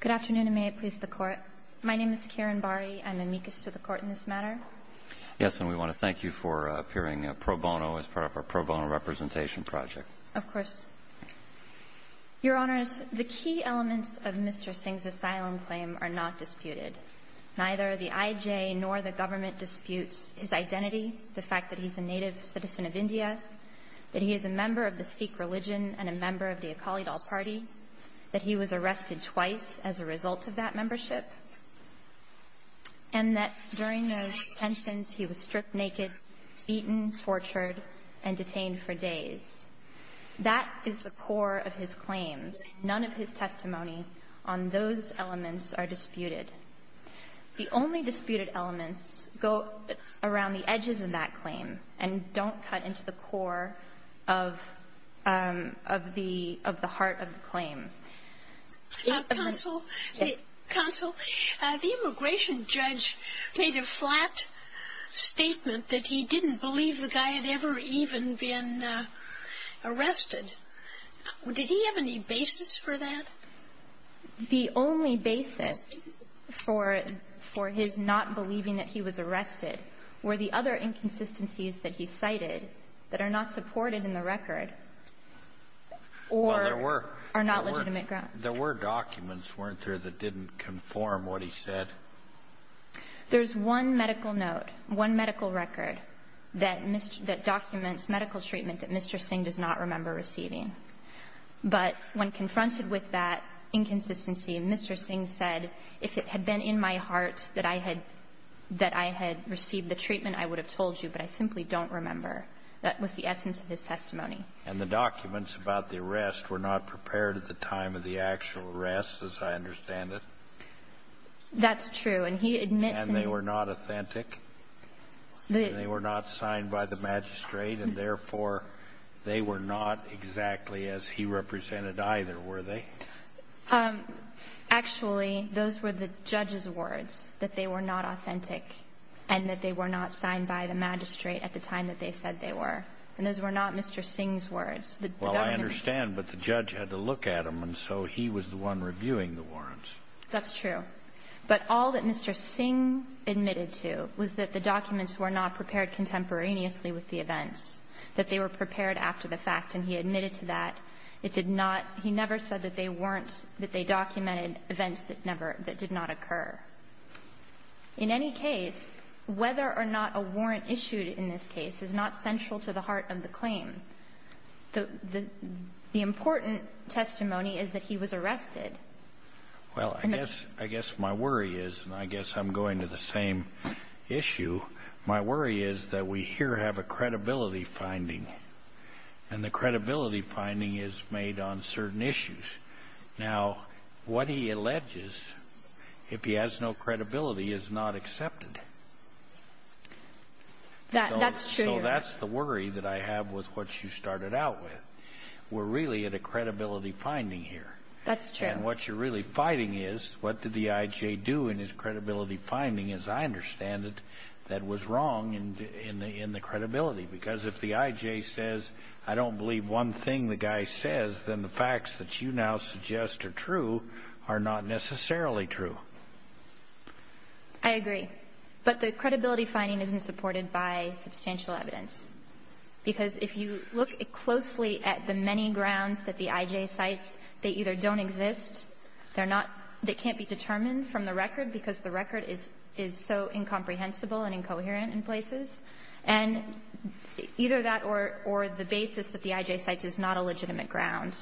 Good afternoon, and may it please the Court. My name is Kiran Bari. I'm amicus to the Court in this matter. Yes, and we want to thank you for appearing pro bono as part of our pro bono representation project. Of course. Your Honors, the key elements of Mr. Singh's asylum claim are not disputed. Neither the IJ nor the government disputes his identity, the fact that he's a native citizen of India, that he is a member of the Sikh religion and a member of the Akali Dal party, that he was arrested twice as a result of that membership, and that during those detentions, he was stripped naked, beaten, tortured, and detained for days. That is the core of his claim. None of his testimony on those disputed elements go around the edges of that claim and don't cut into the core of the heart of the claim. Counsel, the immigration judge made a flat statement that he didn't believe the guy had ever even been arrested. Did he have any basis for that? The only basis for his not believing that he was arrested were the other inconsistencies that he cited that are not supported in the record or are not legitimate grounds. There were documents, weren't there, that didn't conform what he said? There's one medical note, one medical record that documents medical treatment that Mr. Singh does not remember receiving. But when confronted with that inconsistency, Mr. Singh said, if it had been in my heart that I had received the treatment, I would have told you, but I simply don't remember. That was the essence of his testimony. And the documents about the arrest were not prepared at the time of the actual arrest, as I understand it? That's true. And he admits in the And they were not authentic? And they were not signed by the magistrate, and therefore they were not exactly as he represented either, were they? Actually, those were the judge's words, that they were not authentic and that they were not signed by the magistrate at the time that they said they were. And those were not Mr. Singh's words. Well, I understand, but the judge had to look at them, and so he was the one reviewing the warrants. That's true. But all that Mr. Singh admitted to was that the documents were not prepared contemporaneously with the events, that they were prepared after the fact, and he admitted to that. It did not – he never said that they weren't – that they documented events that never – that did not occur. In any case, whether or not a warrant issued in this case is not central to the heart of the claim. The important testimony is that he was arrested. Well, I guess my worry is, and I guess I'm going to the same issue, my worry is that we here have a credibility finding, and the credibility finding is made on certain issues. Now, what he alleges, if he has no credibility, is not accepted. That's true. So that's the worry that I have with what you started out with. We're really at a credibility finding here. That's true. And what you're really fighting is, what did the I.J. do in his credibility finding, as I understand it, that was wrong in the credibility? Because if the I.J. says, I don't believe one thing the guy says, then the facts that you now suggest are true are not necessarily true. I agree. But the credibility finding isn't supported by substantial evidence. Because if you look closely at the many grounds that the I.J. cites, they either don't exist, they're not, they can't be determined from the record because the record is so incomprehensible and incoherent in places, and either that or the basis that the I.J. cites is not a legitimate ground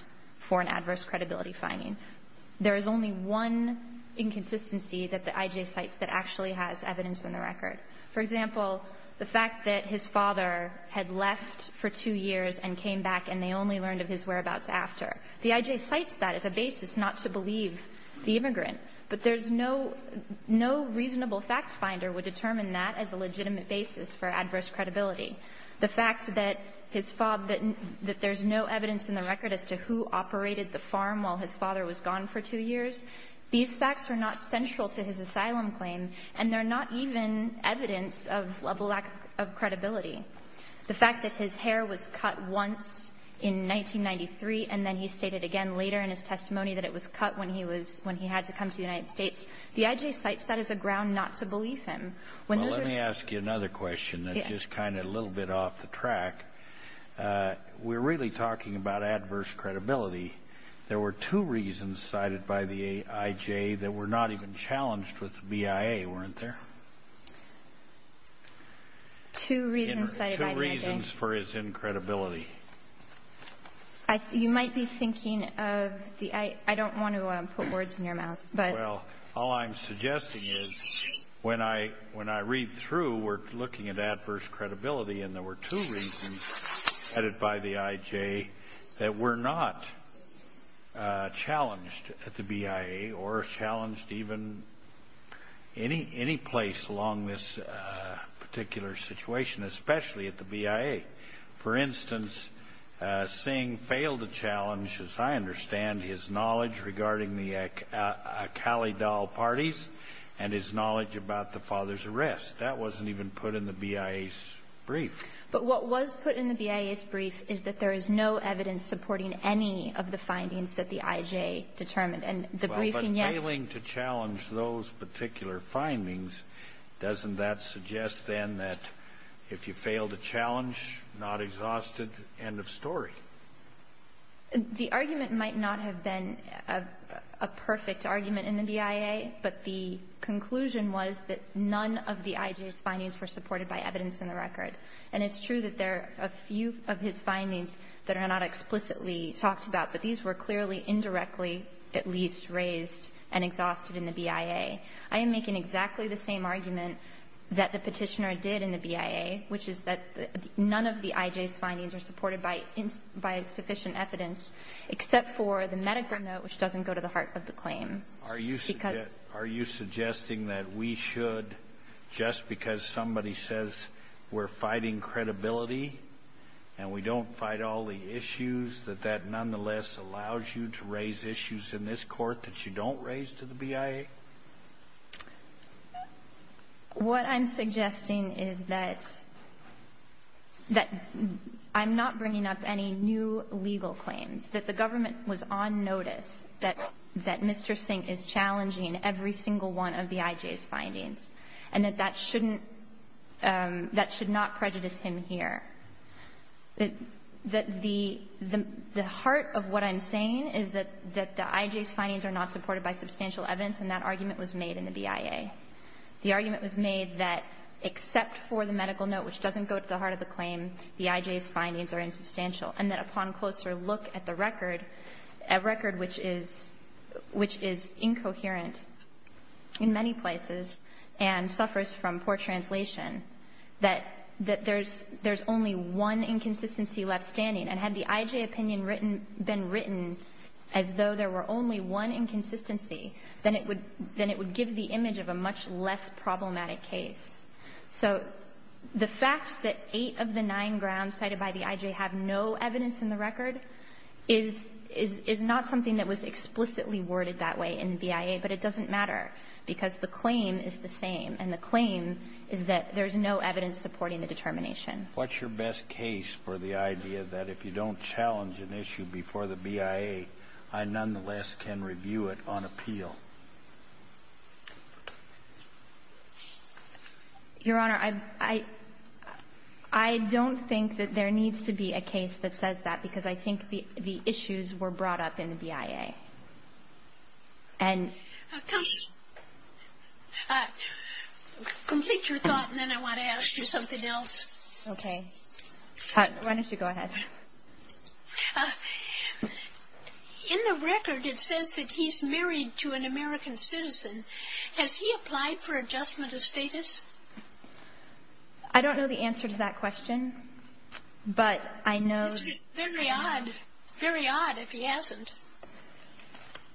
for an adverse credibility finding. There is only one inconsistency that the I.J. cites that actually has evidence in the record. For example, the fact that his father had left for two years and came back and they only learned of his whereabouts after. The I.J. cites that as a basis not to believe the immigrant, but there's no reasonable fact finder would determine that as a legitimate basis for adverse credibility. The fact that his father, that there's no evidence in the record as to who operated the farm while his father was gone for two years, these facts are not central to his proven evidence of a lack of credibility. The fact that his hair was cut once in 1993 and then he stated again later in his testimony that it was cut when he had to come to the United States. The I.J. cites that as a ground not to believe him. Well, let me ask you another question that's just kind of a little bit off the track. We're really talking about adverse credibility. There were two reasons cited by the I.J. that were not even challenged with the BIA, weren't there? Two reasons cited by the I.J. Two reasons for his incredibility. You might be thinking of the I.J. I don't want to put words in your mouth, but. Well, all I'm suggesting is when I read through, we're looking at adverse credibility and there were two reasons cited by the I.J. that were not challenged at the BIA or challenged even any place along this particular situation, especially at the BIA. For instance, Singh failed to challenge, as I understand, his knowledge regarding the Akali Dal parties and his knowledge about the father's arrest. That wasn't even put in the BIA's brief. But what was put in the BIA's brief is that there is no evidence supporting any of the findings that the I.J. determined. And the briefing, yes. But failing to challenge those particular findings, doesn't that suggest then that if you fail to challenge, not exhausted, end of story? The argument might not have been a perfect argument in the BIA, but the conclusion was that none of the I.J.'s findings were supported by evidence in the record. And it's true that there are a few of his findings that are not explicitly talked about, but these were clearly indirectly at least raised and exhausted in the BIA. I am making exactly the same argument that the Petitioner did in the BIA, which is that none of the I.J.'s findings are supported by sufficient evidence, except for the medical note, which doesn't go to the heart of the claim. Are you suggesting that we should, just because somebody says we're fighting credibility and we don't fight all the issues, that that nonetheless allows you to raise issues in this Court that you don't raise to the BIA? What I'm suggesting is that I'm not bringing up any new legal claims, that the government was on notice that Mr. Singh is challenging every single one of the I.J.'s findings, and that that shouldn't – that should not prejudice him here. The heart of what I'm saying is that the I.J.'s findings are not supported by substantial evidence, and that argument was made in the BIA. The argument was made that except for the medical note, which doesn't go to the heart of the claim, the I.J.'s findings are insubstantial, and that upon closer look at the poor translation, that there's only one inconsistency left standing. And had the I.J. opinion been written as though there were only one inconsistency, then it would give the image of a much less problematic case. So the fact that eight of the nine grounds cited by the I.J. have no evidence in the record is not something that was explicitly worded that way in the BIA, but it doesn't matter because the claim is the same, and the claim is that there's no evidence supporting the determination. What's your best case for the idea that if you don't challenge an issue before the BIA, I nonetheless can review it on appeal? Your Honor, I don't think that there needs to be a case that says that because I think the issues were brought up in the BIA. Complete your thought, and then I want to ask you something else. Okay. Why don't you go ahead. In the record, it says that he's married to an American citizen. Has he applied for adjustment of status? I don't know the answer to that question, but I know the answer.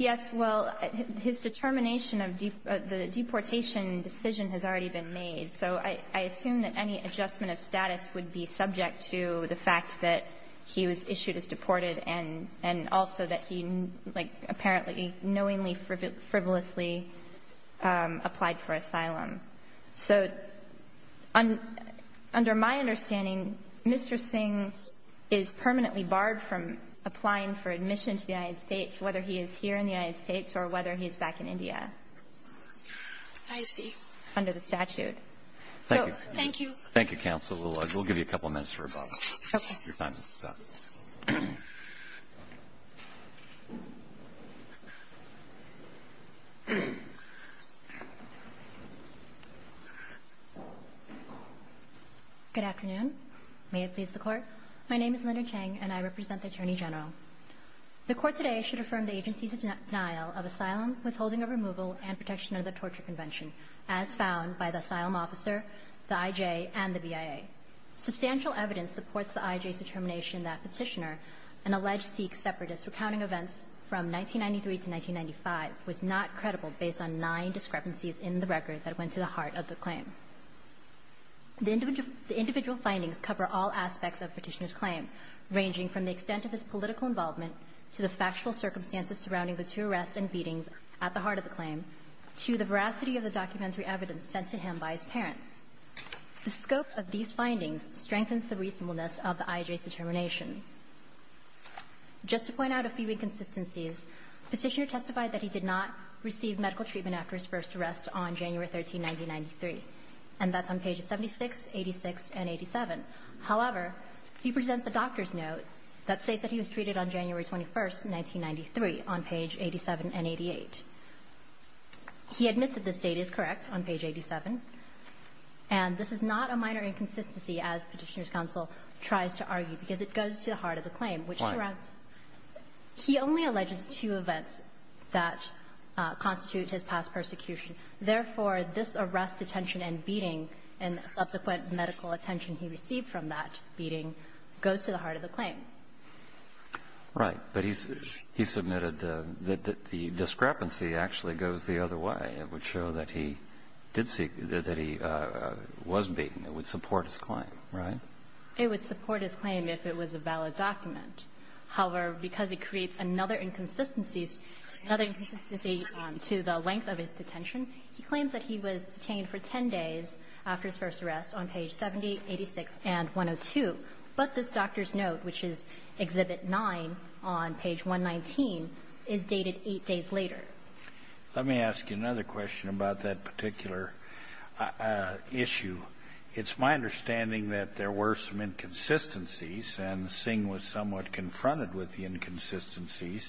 Yes. Well, his determination of the deportation decision has already been made. So I assume that any adjustment of status would be subject to the fact that he was issued as deported and also that he, like, apparently knowingly, frivolously applied for asylum. So under my understanding, Mr. Singh is permanently barred from applying for admission to the United States, whether he is here in the United States or whether he is back in India. I see. Under the statute. Thank you. Thank you. Thank you, Counsel. We'll give you a couple minutes for rebuttal. Okay. Your time is up. Good afternoon. May it please the Court. My name is Linda Chang, and I represent the Attorney General. The Court today should affirm the agency's denial of asylum, withholding of removal, and protection under the Torture Convention as found by the asylum officer, the I.J. and the BIA. Substantial evidence supports the I.J.'s determination that Petitioner, an alleged Sikh separatist recounting events from 1993 to 1995, was not credible based on nine discrepancies in the record that went to the heart of the claim. The individual findings cover all aspects of Petitioner's claim, ranging from the extent of his political involvement to the factual circumstances surrounding the two arrests and beatings at the heart of the claim, to the veracity of the documentary evidence sent to him by his parents. The scope of these findings strengthens the reasonableness of the I.J.'s determination. Just to point out a few inconsistencies, Petitioner testified that he did not receive medical treatment after his first arrest on January 13, 1993. And that's on pages 76, 86, and 87. However, he presents a doctor's note that states that he was treated on January 21, 1993, on page 87 and 88. He admits that this date is correct, on page 87. And this is not a minor inconsistency, as Petitioner's counsel tries to argue, because it goes to the heart of the claim, which surrounds. He only alleges two events that constitute his past persecution. Therefore, this arrest, detention, and beating, and subsequent medical attention he received from that beating, goes to the heart of the claim. Right. But he submitted that the discrepancy actually goes the other way. It would show that he did see that he was beaten. It would support his claim, right? It would support his claim if it was a valid document. However, because it creates another inconsistencies, another inconsistency to the length of his detention, he claims that he was detained for 10 days after his first arrest on page 70, 86, and 102. But this doctor's note, which is Exhibit 9 on page 119, is dated 8 days later. Let me ask you another question about that particular issue. It's my understanding that there were some inconsistencies, and Singh was somewhat aware of those inconsistencies,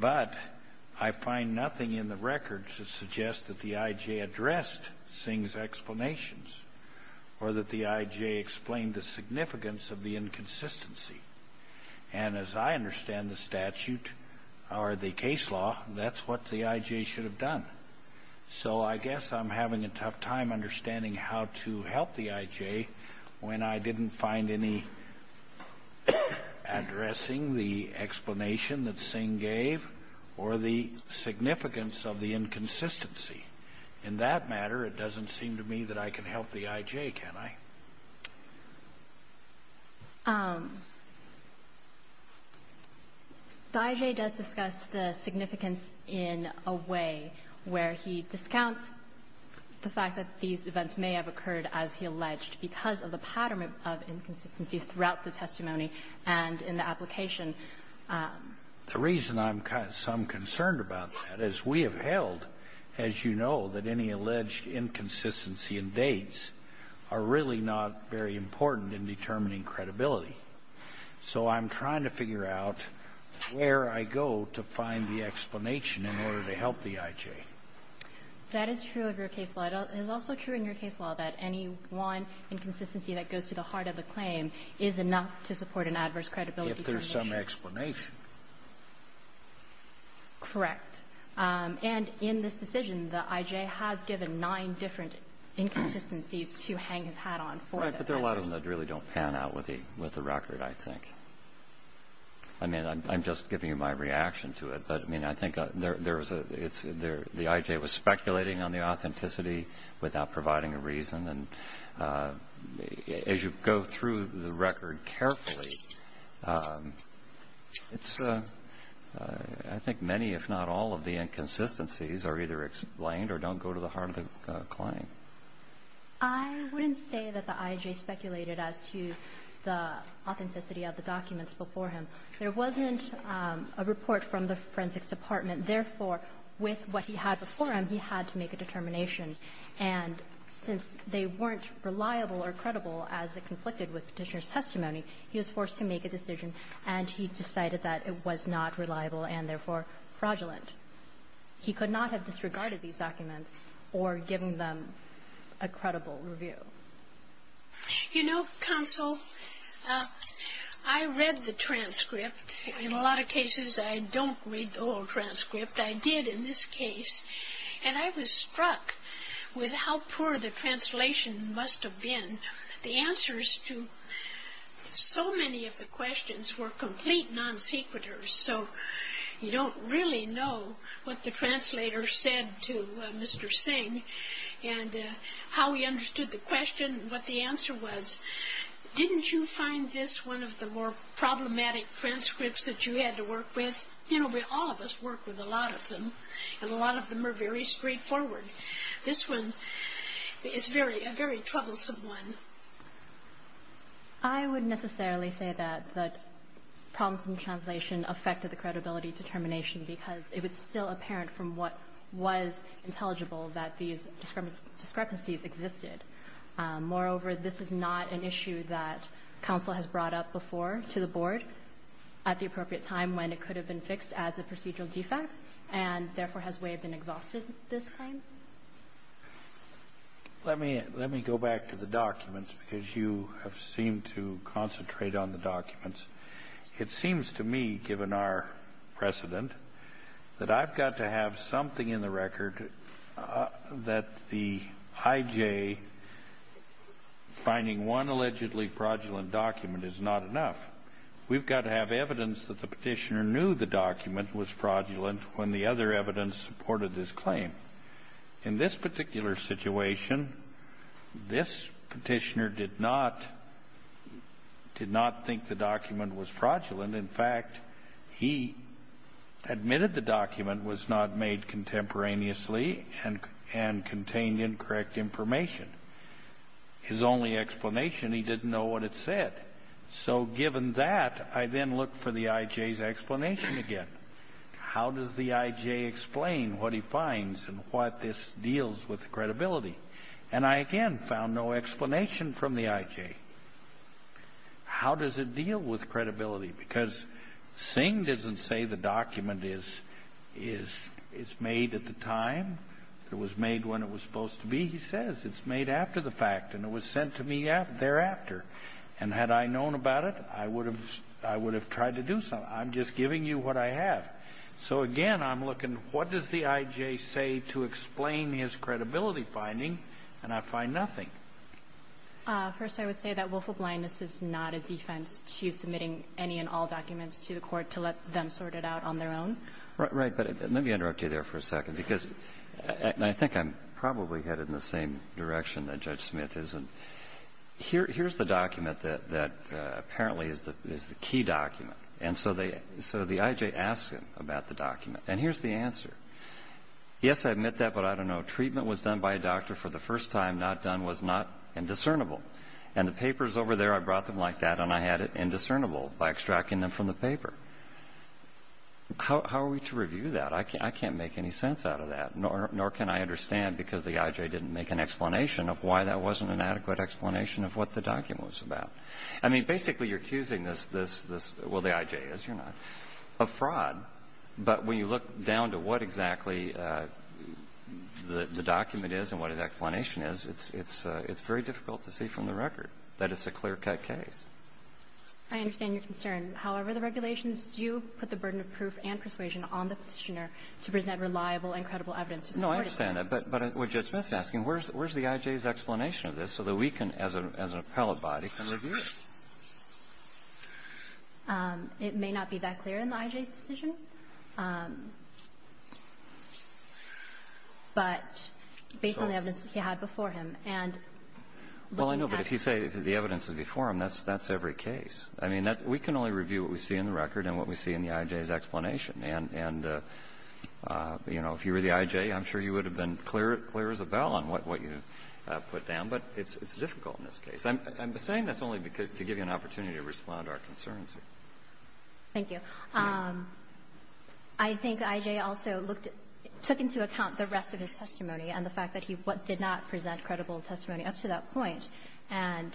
but I find nothing in the records that suggests that the I.J. addressed Singh's explanations or that the I.J. explained the significance of the inconsistency. And as I understand the statute or the case law, that's what the I.J. should have done. So I guess I'm having a tough time understanding how to help the I.J. when I didn't find any addressing the explanation that Singh gave or the significance of the inconsistency. In that matter, it doesn't seem to me that I can help the I.J., can I? The I.J. does discuss the significance in a way where he discounts the fact that these inconsistencies throughout the testimony and in the application. The reason I'm concerned about that is we have held, as you know, that any alleged inconsistency in dates are really not very important in determining credibility. So I'm trying to figure out where I go to find the explanation in order to help the I.J. That is true of your case law. It is also true in your case law that any one inconsistency that goes to the heart of the claim is enough to support an adverse credibility determination. If there's some explanation. Correct. And in this decision, the I.J. has given nine different inconsistencies to hang his hat on for the I.J. Right. But there are a lot of them that really don't pan out with the record, I think. I mean, I'm just giving you my reaction to it. But, I mean, I think there was a the I.J. was speculating on the authenticity without providing a reason. And as you go through the record carefully, it's I think many, if not all, of the inconsistencies are either explained or don't go to the heart of the claim. I wouldn't say that the I.J. speculated as to the authenticity of the documents before him. There wasn't a report from the forensics department. Therefore, with what he had before him, he had to make a determination. And since they weren't reliable or credible as it conflicted with Petitioner's testimony, he was forced to make a decision, and he decided that it was not reliable and, therefore, fraudulent. He could not have disregarded these documents or given them a credible review. You know, Counsel, I read the transcript. In a lot of cases, I don't read the old transcript. I did in this case, and I was struck with how poor the translation must have been. The answers to so many of the questions were complete non-secreters. So you don't really know what the translator said to Mr. Singh and how he interpreted the question. What the answer was, didn't you find this one of the more problematic transcripts that you had to work with? You know, all of us work with a lot of them, and a lot of them are very straightforward. This one is a very troublesome one. I wouldn't necessarily say that the problems in translation affected the credibility determination because it was still apparent from what was intelligible that these discrepancies existed. Moreover, this is not an issue that Counsel has brought up before to the Board at the appropriate time when it could have been fixed as a procedural defect and, therefore, has waived and exhausted this claim. Let me go back to the documents because you have seemed to concentrate on the documents. It seems to me, given our precedent, that I've got to have something in the record that the IJ finding one allegedly fraudulent document is not enough. We've got to have evidence that the Petitioner knew the document was fraudulent when the other evidence supported his claim. In this particular situation, this Petitioner did not think the document was fraudulent. In fact, he admitted the document was not made contemporaneously and contained incorrect information. His only explanation, he didn't know what it said. So given that, I then look for the IJ's explanation again. How does the IJ explain what he finds and what this deals with credibility? And I, again, found no explanation from the IJ. How does it deal with credibility? Because Singh doesn't say the document is made at the time. It was made when it was supposed to be. He says it's made after the fact and it was sent to me thereafter. And had I known about it, I would have tried to do something. I'm just giving you what I have. So, again, I'm looking, what does the IJ say to explain his credibility finding? And I find nothing. First, I would say that willful blindness is not a defense to submitting any and all documents to the court to let them sort it out on their own. Right. But let me interrupt you there for a second, because I think I'm probably headed in the same direction that Judge Smith is. And here's the document that apparently is the key document. And so the IJ asks him about the document. And here's the answer. Yes, I admit that, but I don't know. And the paper is over there. I brought them like that and I had it indiscernible by extracting them from the paper. How are we to review that? I can't make any sense out of that, nor can I understand, because the IJ didn't make an explanation of why that wasn't an adequate explanation of what the document was about. I mean, basically, you're accusing this, well, the IJ is, you're not, of fraud. But when you look down to what exactly the document is and what his explanation is, it's very difficult to see from the record that it's a clear-cut case. I understand your concern. However, the regulations do put the burden of proof and persuasion on the Petitioner to present reliable and credible evidence to support his claim. No, I understand that. But what Judge Smith is asking, where's the IJ's explanation of this so that we can, as an appellate body, can review it? It may not be that clear in the IJ's decision. But based on the evidence he had before him. Well, I know. But if you say the evidence is before him, that's every case. I mean, we can only review what we see in the record and what we see in the IJ's explanation. And, you know, if you were the IJ, I'm sure you would have been clear as a bell on what you put down. But it's difficult in this case. I'm saying this only to give you an opportunity to respond to our concerns. Thank you. I think the IJ also looked at the rest of his testimony and the fact that he did not present credible testimony up to that point. And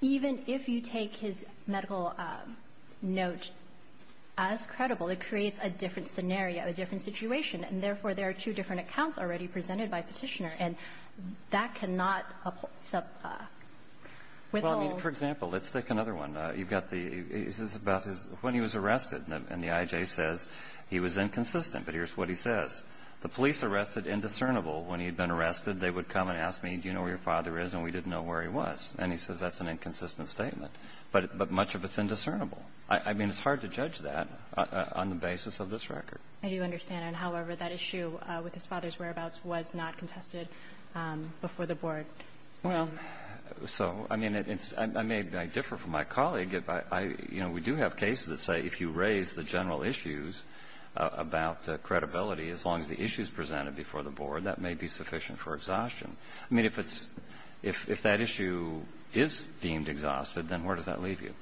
even if you take his medical note as credible, it creates a different scenario, a different situation. And therefore, there are two different accounts already presented by Petitioner. And that cannot withhold. Well, I mean, for example, let's take another one. You've got the – this is about when he was arrested. And the IJ says he was inconsistent. But here's what he says. The police arrested indiscernible. When he had been arrested, they would come and ask me, do you know where your father is? And we didn't know where he was. And he says that's an inconsistent statement. But much of it's indiscernible. I mean, it's hard to judge that on the basis of this record. I do understand. And, however, that issue with his father's whereabouts was not contested before the Board. Well, so, I mean, it's – I may differ from my colleague. You know, we do have cases that say if you raise the general issues about credibility as long as the issue is presented before the Board, that may be sufficient for exhaustion. I mean, if it's – if that issue is deemed exhausted, then where does that leave you?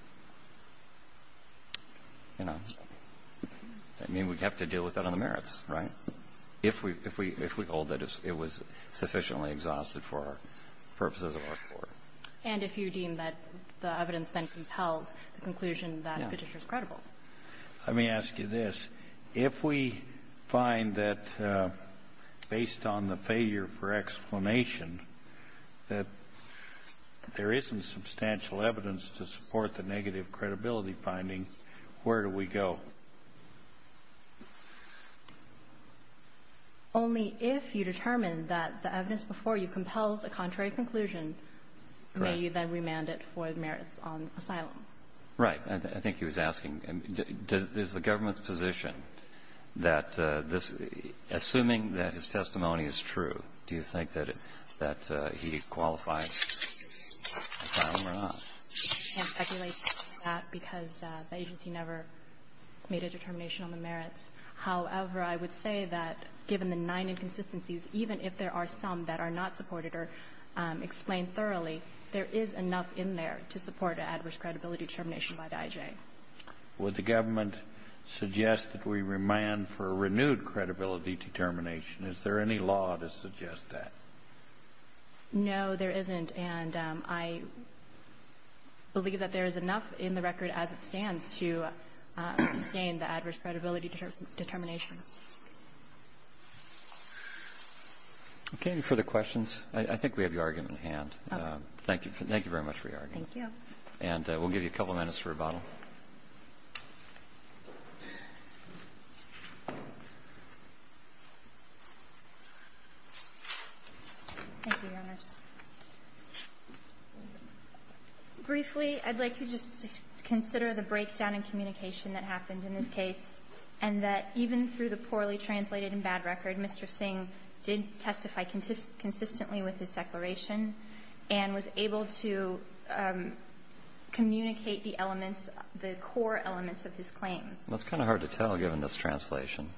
You know? I mean, we'd have to deal with that on the merits, right? If we – if we hold that it was sufficiently exhausted for purposes of our Court. And if you deem that the evidence then compels the conclusion that the petition is credible. Let me ask you this. If we find that, based on the failure for explanation, that there isn't substantial evidence to support the negative credibility finding, where do we go? Only if you determine that the evidence before you compels a contrary conclusion may you then remand it for merits on asylum. Right. I think he was asking, is the government's position that this – assuming that his testimony is true, do you think that he qualifies for asylum or not? I can't speculate on that because the agency never made a determination on the merits. However, I would say that given the nine inconsistencies, even if there are some that are not supported or explained thoroughly, there is enough in there to support an adverse credibility determination by the IJ. Would the government suggest that we remand for a renewed credibility determination? Is there any law to suggest that? No, there isn't. And I believe that there is enough in the record as it stands to sustain the adverse credibility determination. Okay. Any further questions? I think we have your argument at hand. Okay. Thank you. Thank you very much for your argument. Thank you. And we'll give you a couple minutes for rebuttal. Thank you, Your Honors. Briefly, I'd like you to just consider the breakdown in communication that happened in this case and that even through the poorly translated and bad record, Mr. Singh did testify consistently with his declaration and was able to communicate the elements, the core elements of his claim. Well, it's kind of hard to tell given this translation.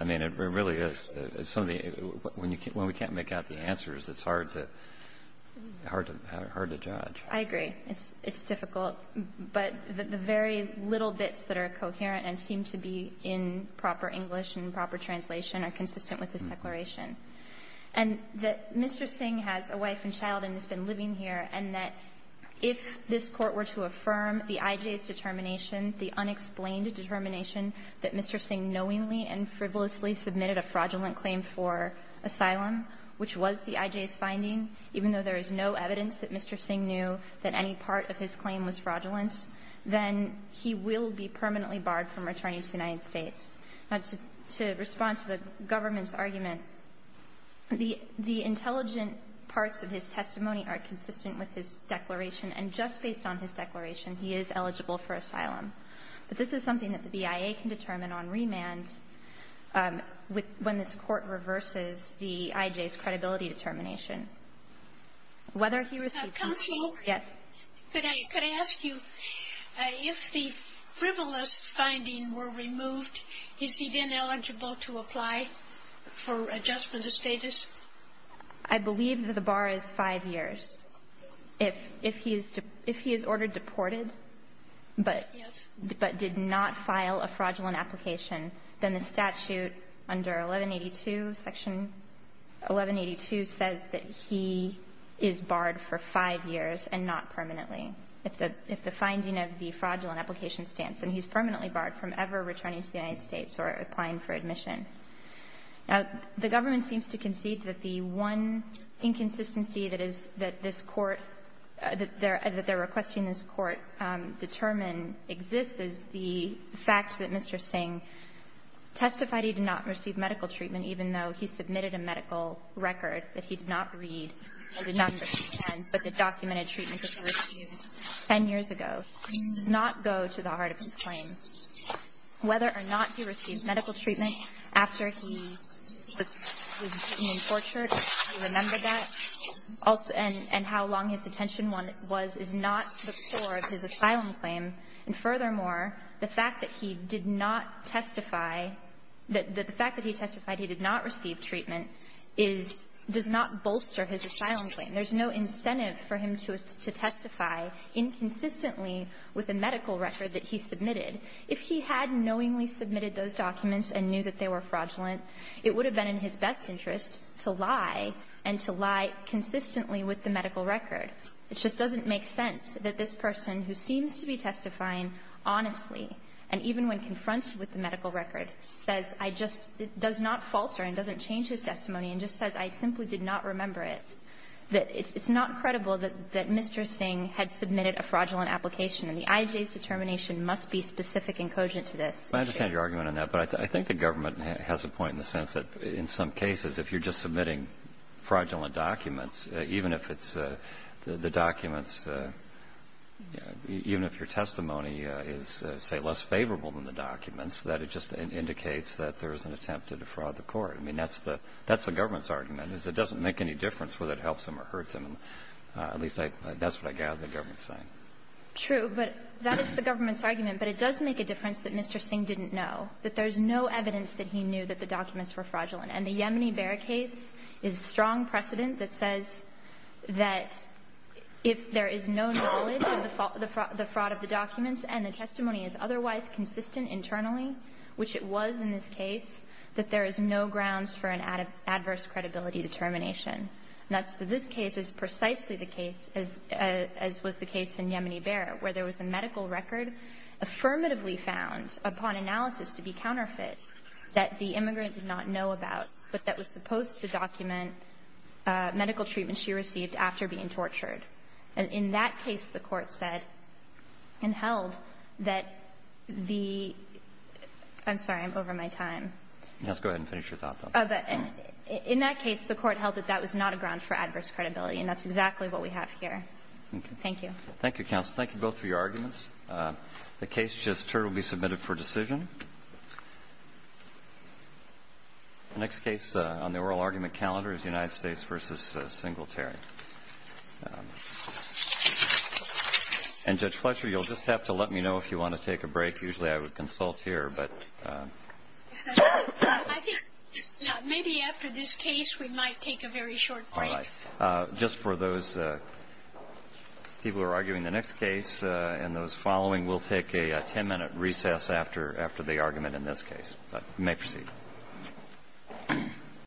I mean, it really is. When we can't make out the answers, it's hard to judge. I agree. It's difficult. But the very little bits that are coherent and seem to be in proper English and proper translation are consistent with his declaration. And that Mr. Singh has a wife and child and has been living here, and that if this Court were to affirm the IJ's determination, the unexplained determination that Mr. Singh knowingly and frivolously submitted a fraudulent claim for asylum, which was the IJ's finding, even though there is no evidence that Mr. Singh knew that any part of his claim was fraudulent, then he will be permanently barred from returning to the United States. Now, to respond to the government's argument, the intelligent parts of his testimony are consistent with his declaration, and just based on his declaration, he is eligible for asylum. But this is something that the BIA can determine on remand when this Court reverses the IJ's credibility determination. Whether he received the IJ's determination. Counselor? Yes. Could I ask you, if the frivolous finding were removed, is he then eligible to apply for adjustment of status? I believe that the bar is five years. If he is ordered deported. Yes. But did not file a fraudulent application, then the statute under 1182, Section 1182, says that he is barred for five years and not permanently. If the finding of the fraudulent application stands, then he's permanently barred from ever returning to the United States or applying for admission. Now, the government seems to concede that the one inconsistency that this Court that they're requesting this Court determine exists is the fact that Mr. Singh testified he did not receive medical treatment, even though he submitted a medical record that he did not read and did not understand, but that documented treatment that he received 10 years ago, does not go to the heart of his claim. Whether or not he received medical treatment after he was deported, I remember that, and how long his detention was, is not the core of his asylum claim. And furthermore, the fact that he did not testify, that the fact that he testified he did not receive treatment is, does not bolster his asylum claim. There's no incentive for him to testify inconsistently with a medical record that he submitted. If he had knowingly submitted those documents and knew that they were fraudulent, it would have been in his best interest to lie and to lie consistently with the medical record. It just doesn't make sense that this person, who seems to be testifying honestly, and even when confronted with the medical record, says, I just, does not falter and doesn't change his testimony, and just says, I simply did not remember it, that it's not credible that Mr. Singh had submitted a fraudulent application, and the IJ's determination must be specific and cogent to this. I understand your argument on that, but I think the government has a point in the sense that in some cases, if you're just submitting fraudulent documents, even if it's the documents, even if your testimony is, say, less favorable than the documents, that it just indicates that there is an attempt to defraud the court. I mean, that's the government's argument, is it doesn't make any difference whether it helps him or hurts him. At least that's what I gather the government's saying. True. But that is the government's argument. But it does make a difference that Mr. Singh didn't know, that there's no evidence that he knew that the documents were fraudulent. And the Yemeni-Behr case is strong precedent that says that if there is no knowledge of the fraud of the documents and the testimony is otherwise consistent internally, which it was in this case, that there is no grounds for an adverse credibility determination. And that's the this case is precisely the case, as was the case in Yemeni-Behr, where there was a medical record affirmatively found upon analysis to be counterfeit that the immigrant did not know about, but that was supposed to document medical treatments she received after being tortured. In that case, the Court said and held that the – I'm sorry, I'm over my time. Let's go ahead and finish your thought, though. In that case, the Court held that that was not a ground for adverse credibility, and that's exactly what we have here. Thank you. Thank you, counsel. Thank you both for your arguments. The case just heard will be submitted for decision. The next case on the oral argument calendar is United States v. Singletary. And, Judge Fletcher, you'll just have to let me know if you want to take a break. Usually, I would consult here, but – I think maybe after this case, we might take a very short break. All right. Just for those people who are arguing the next case and those following, we'll take a 10-minute recess after the argument in this case. But you may proceed.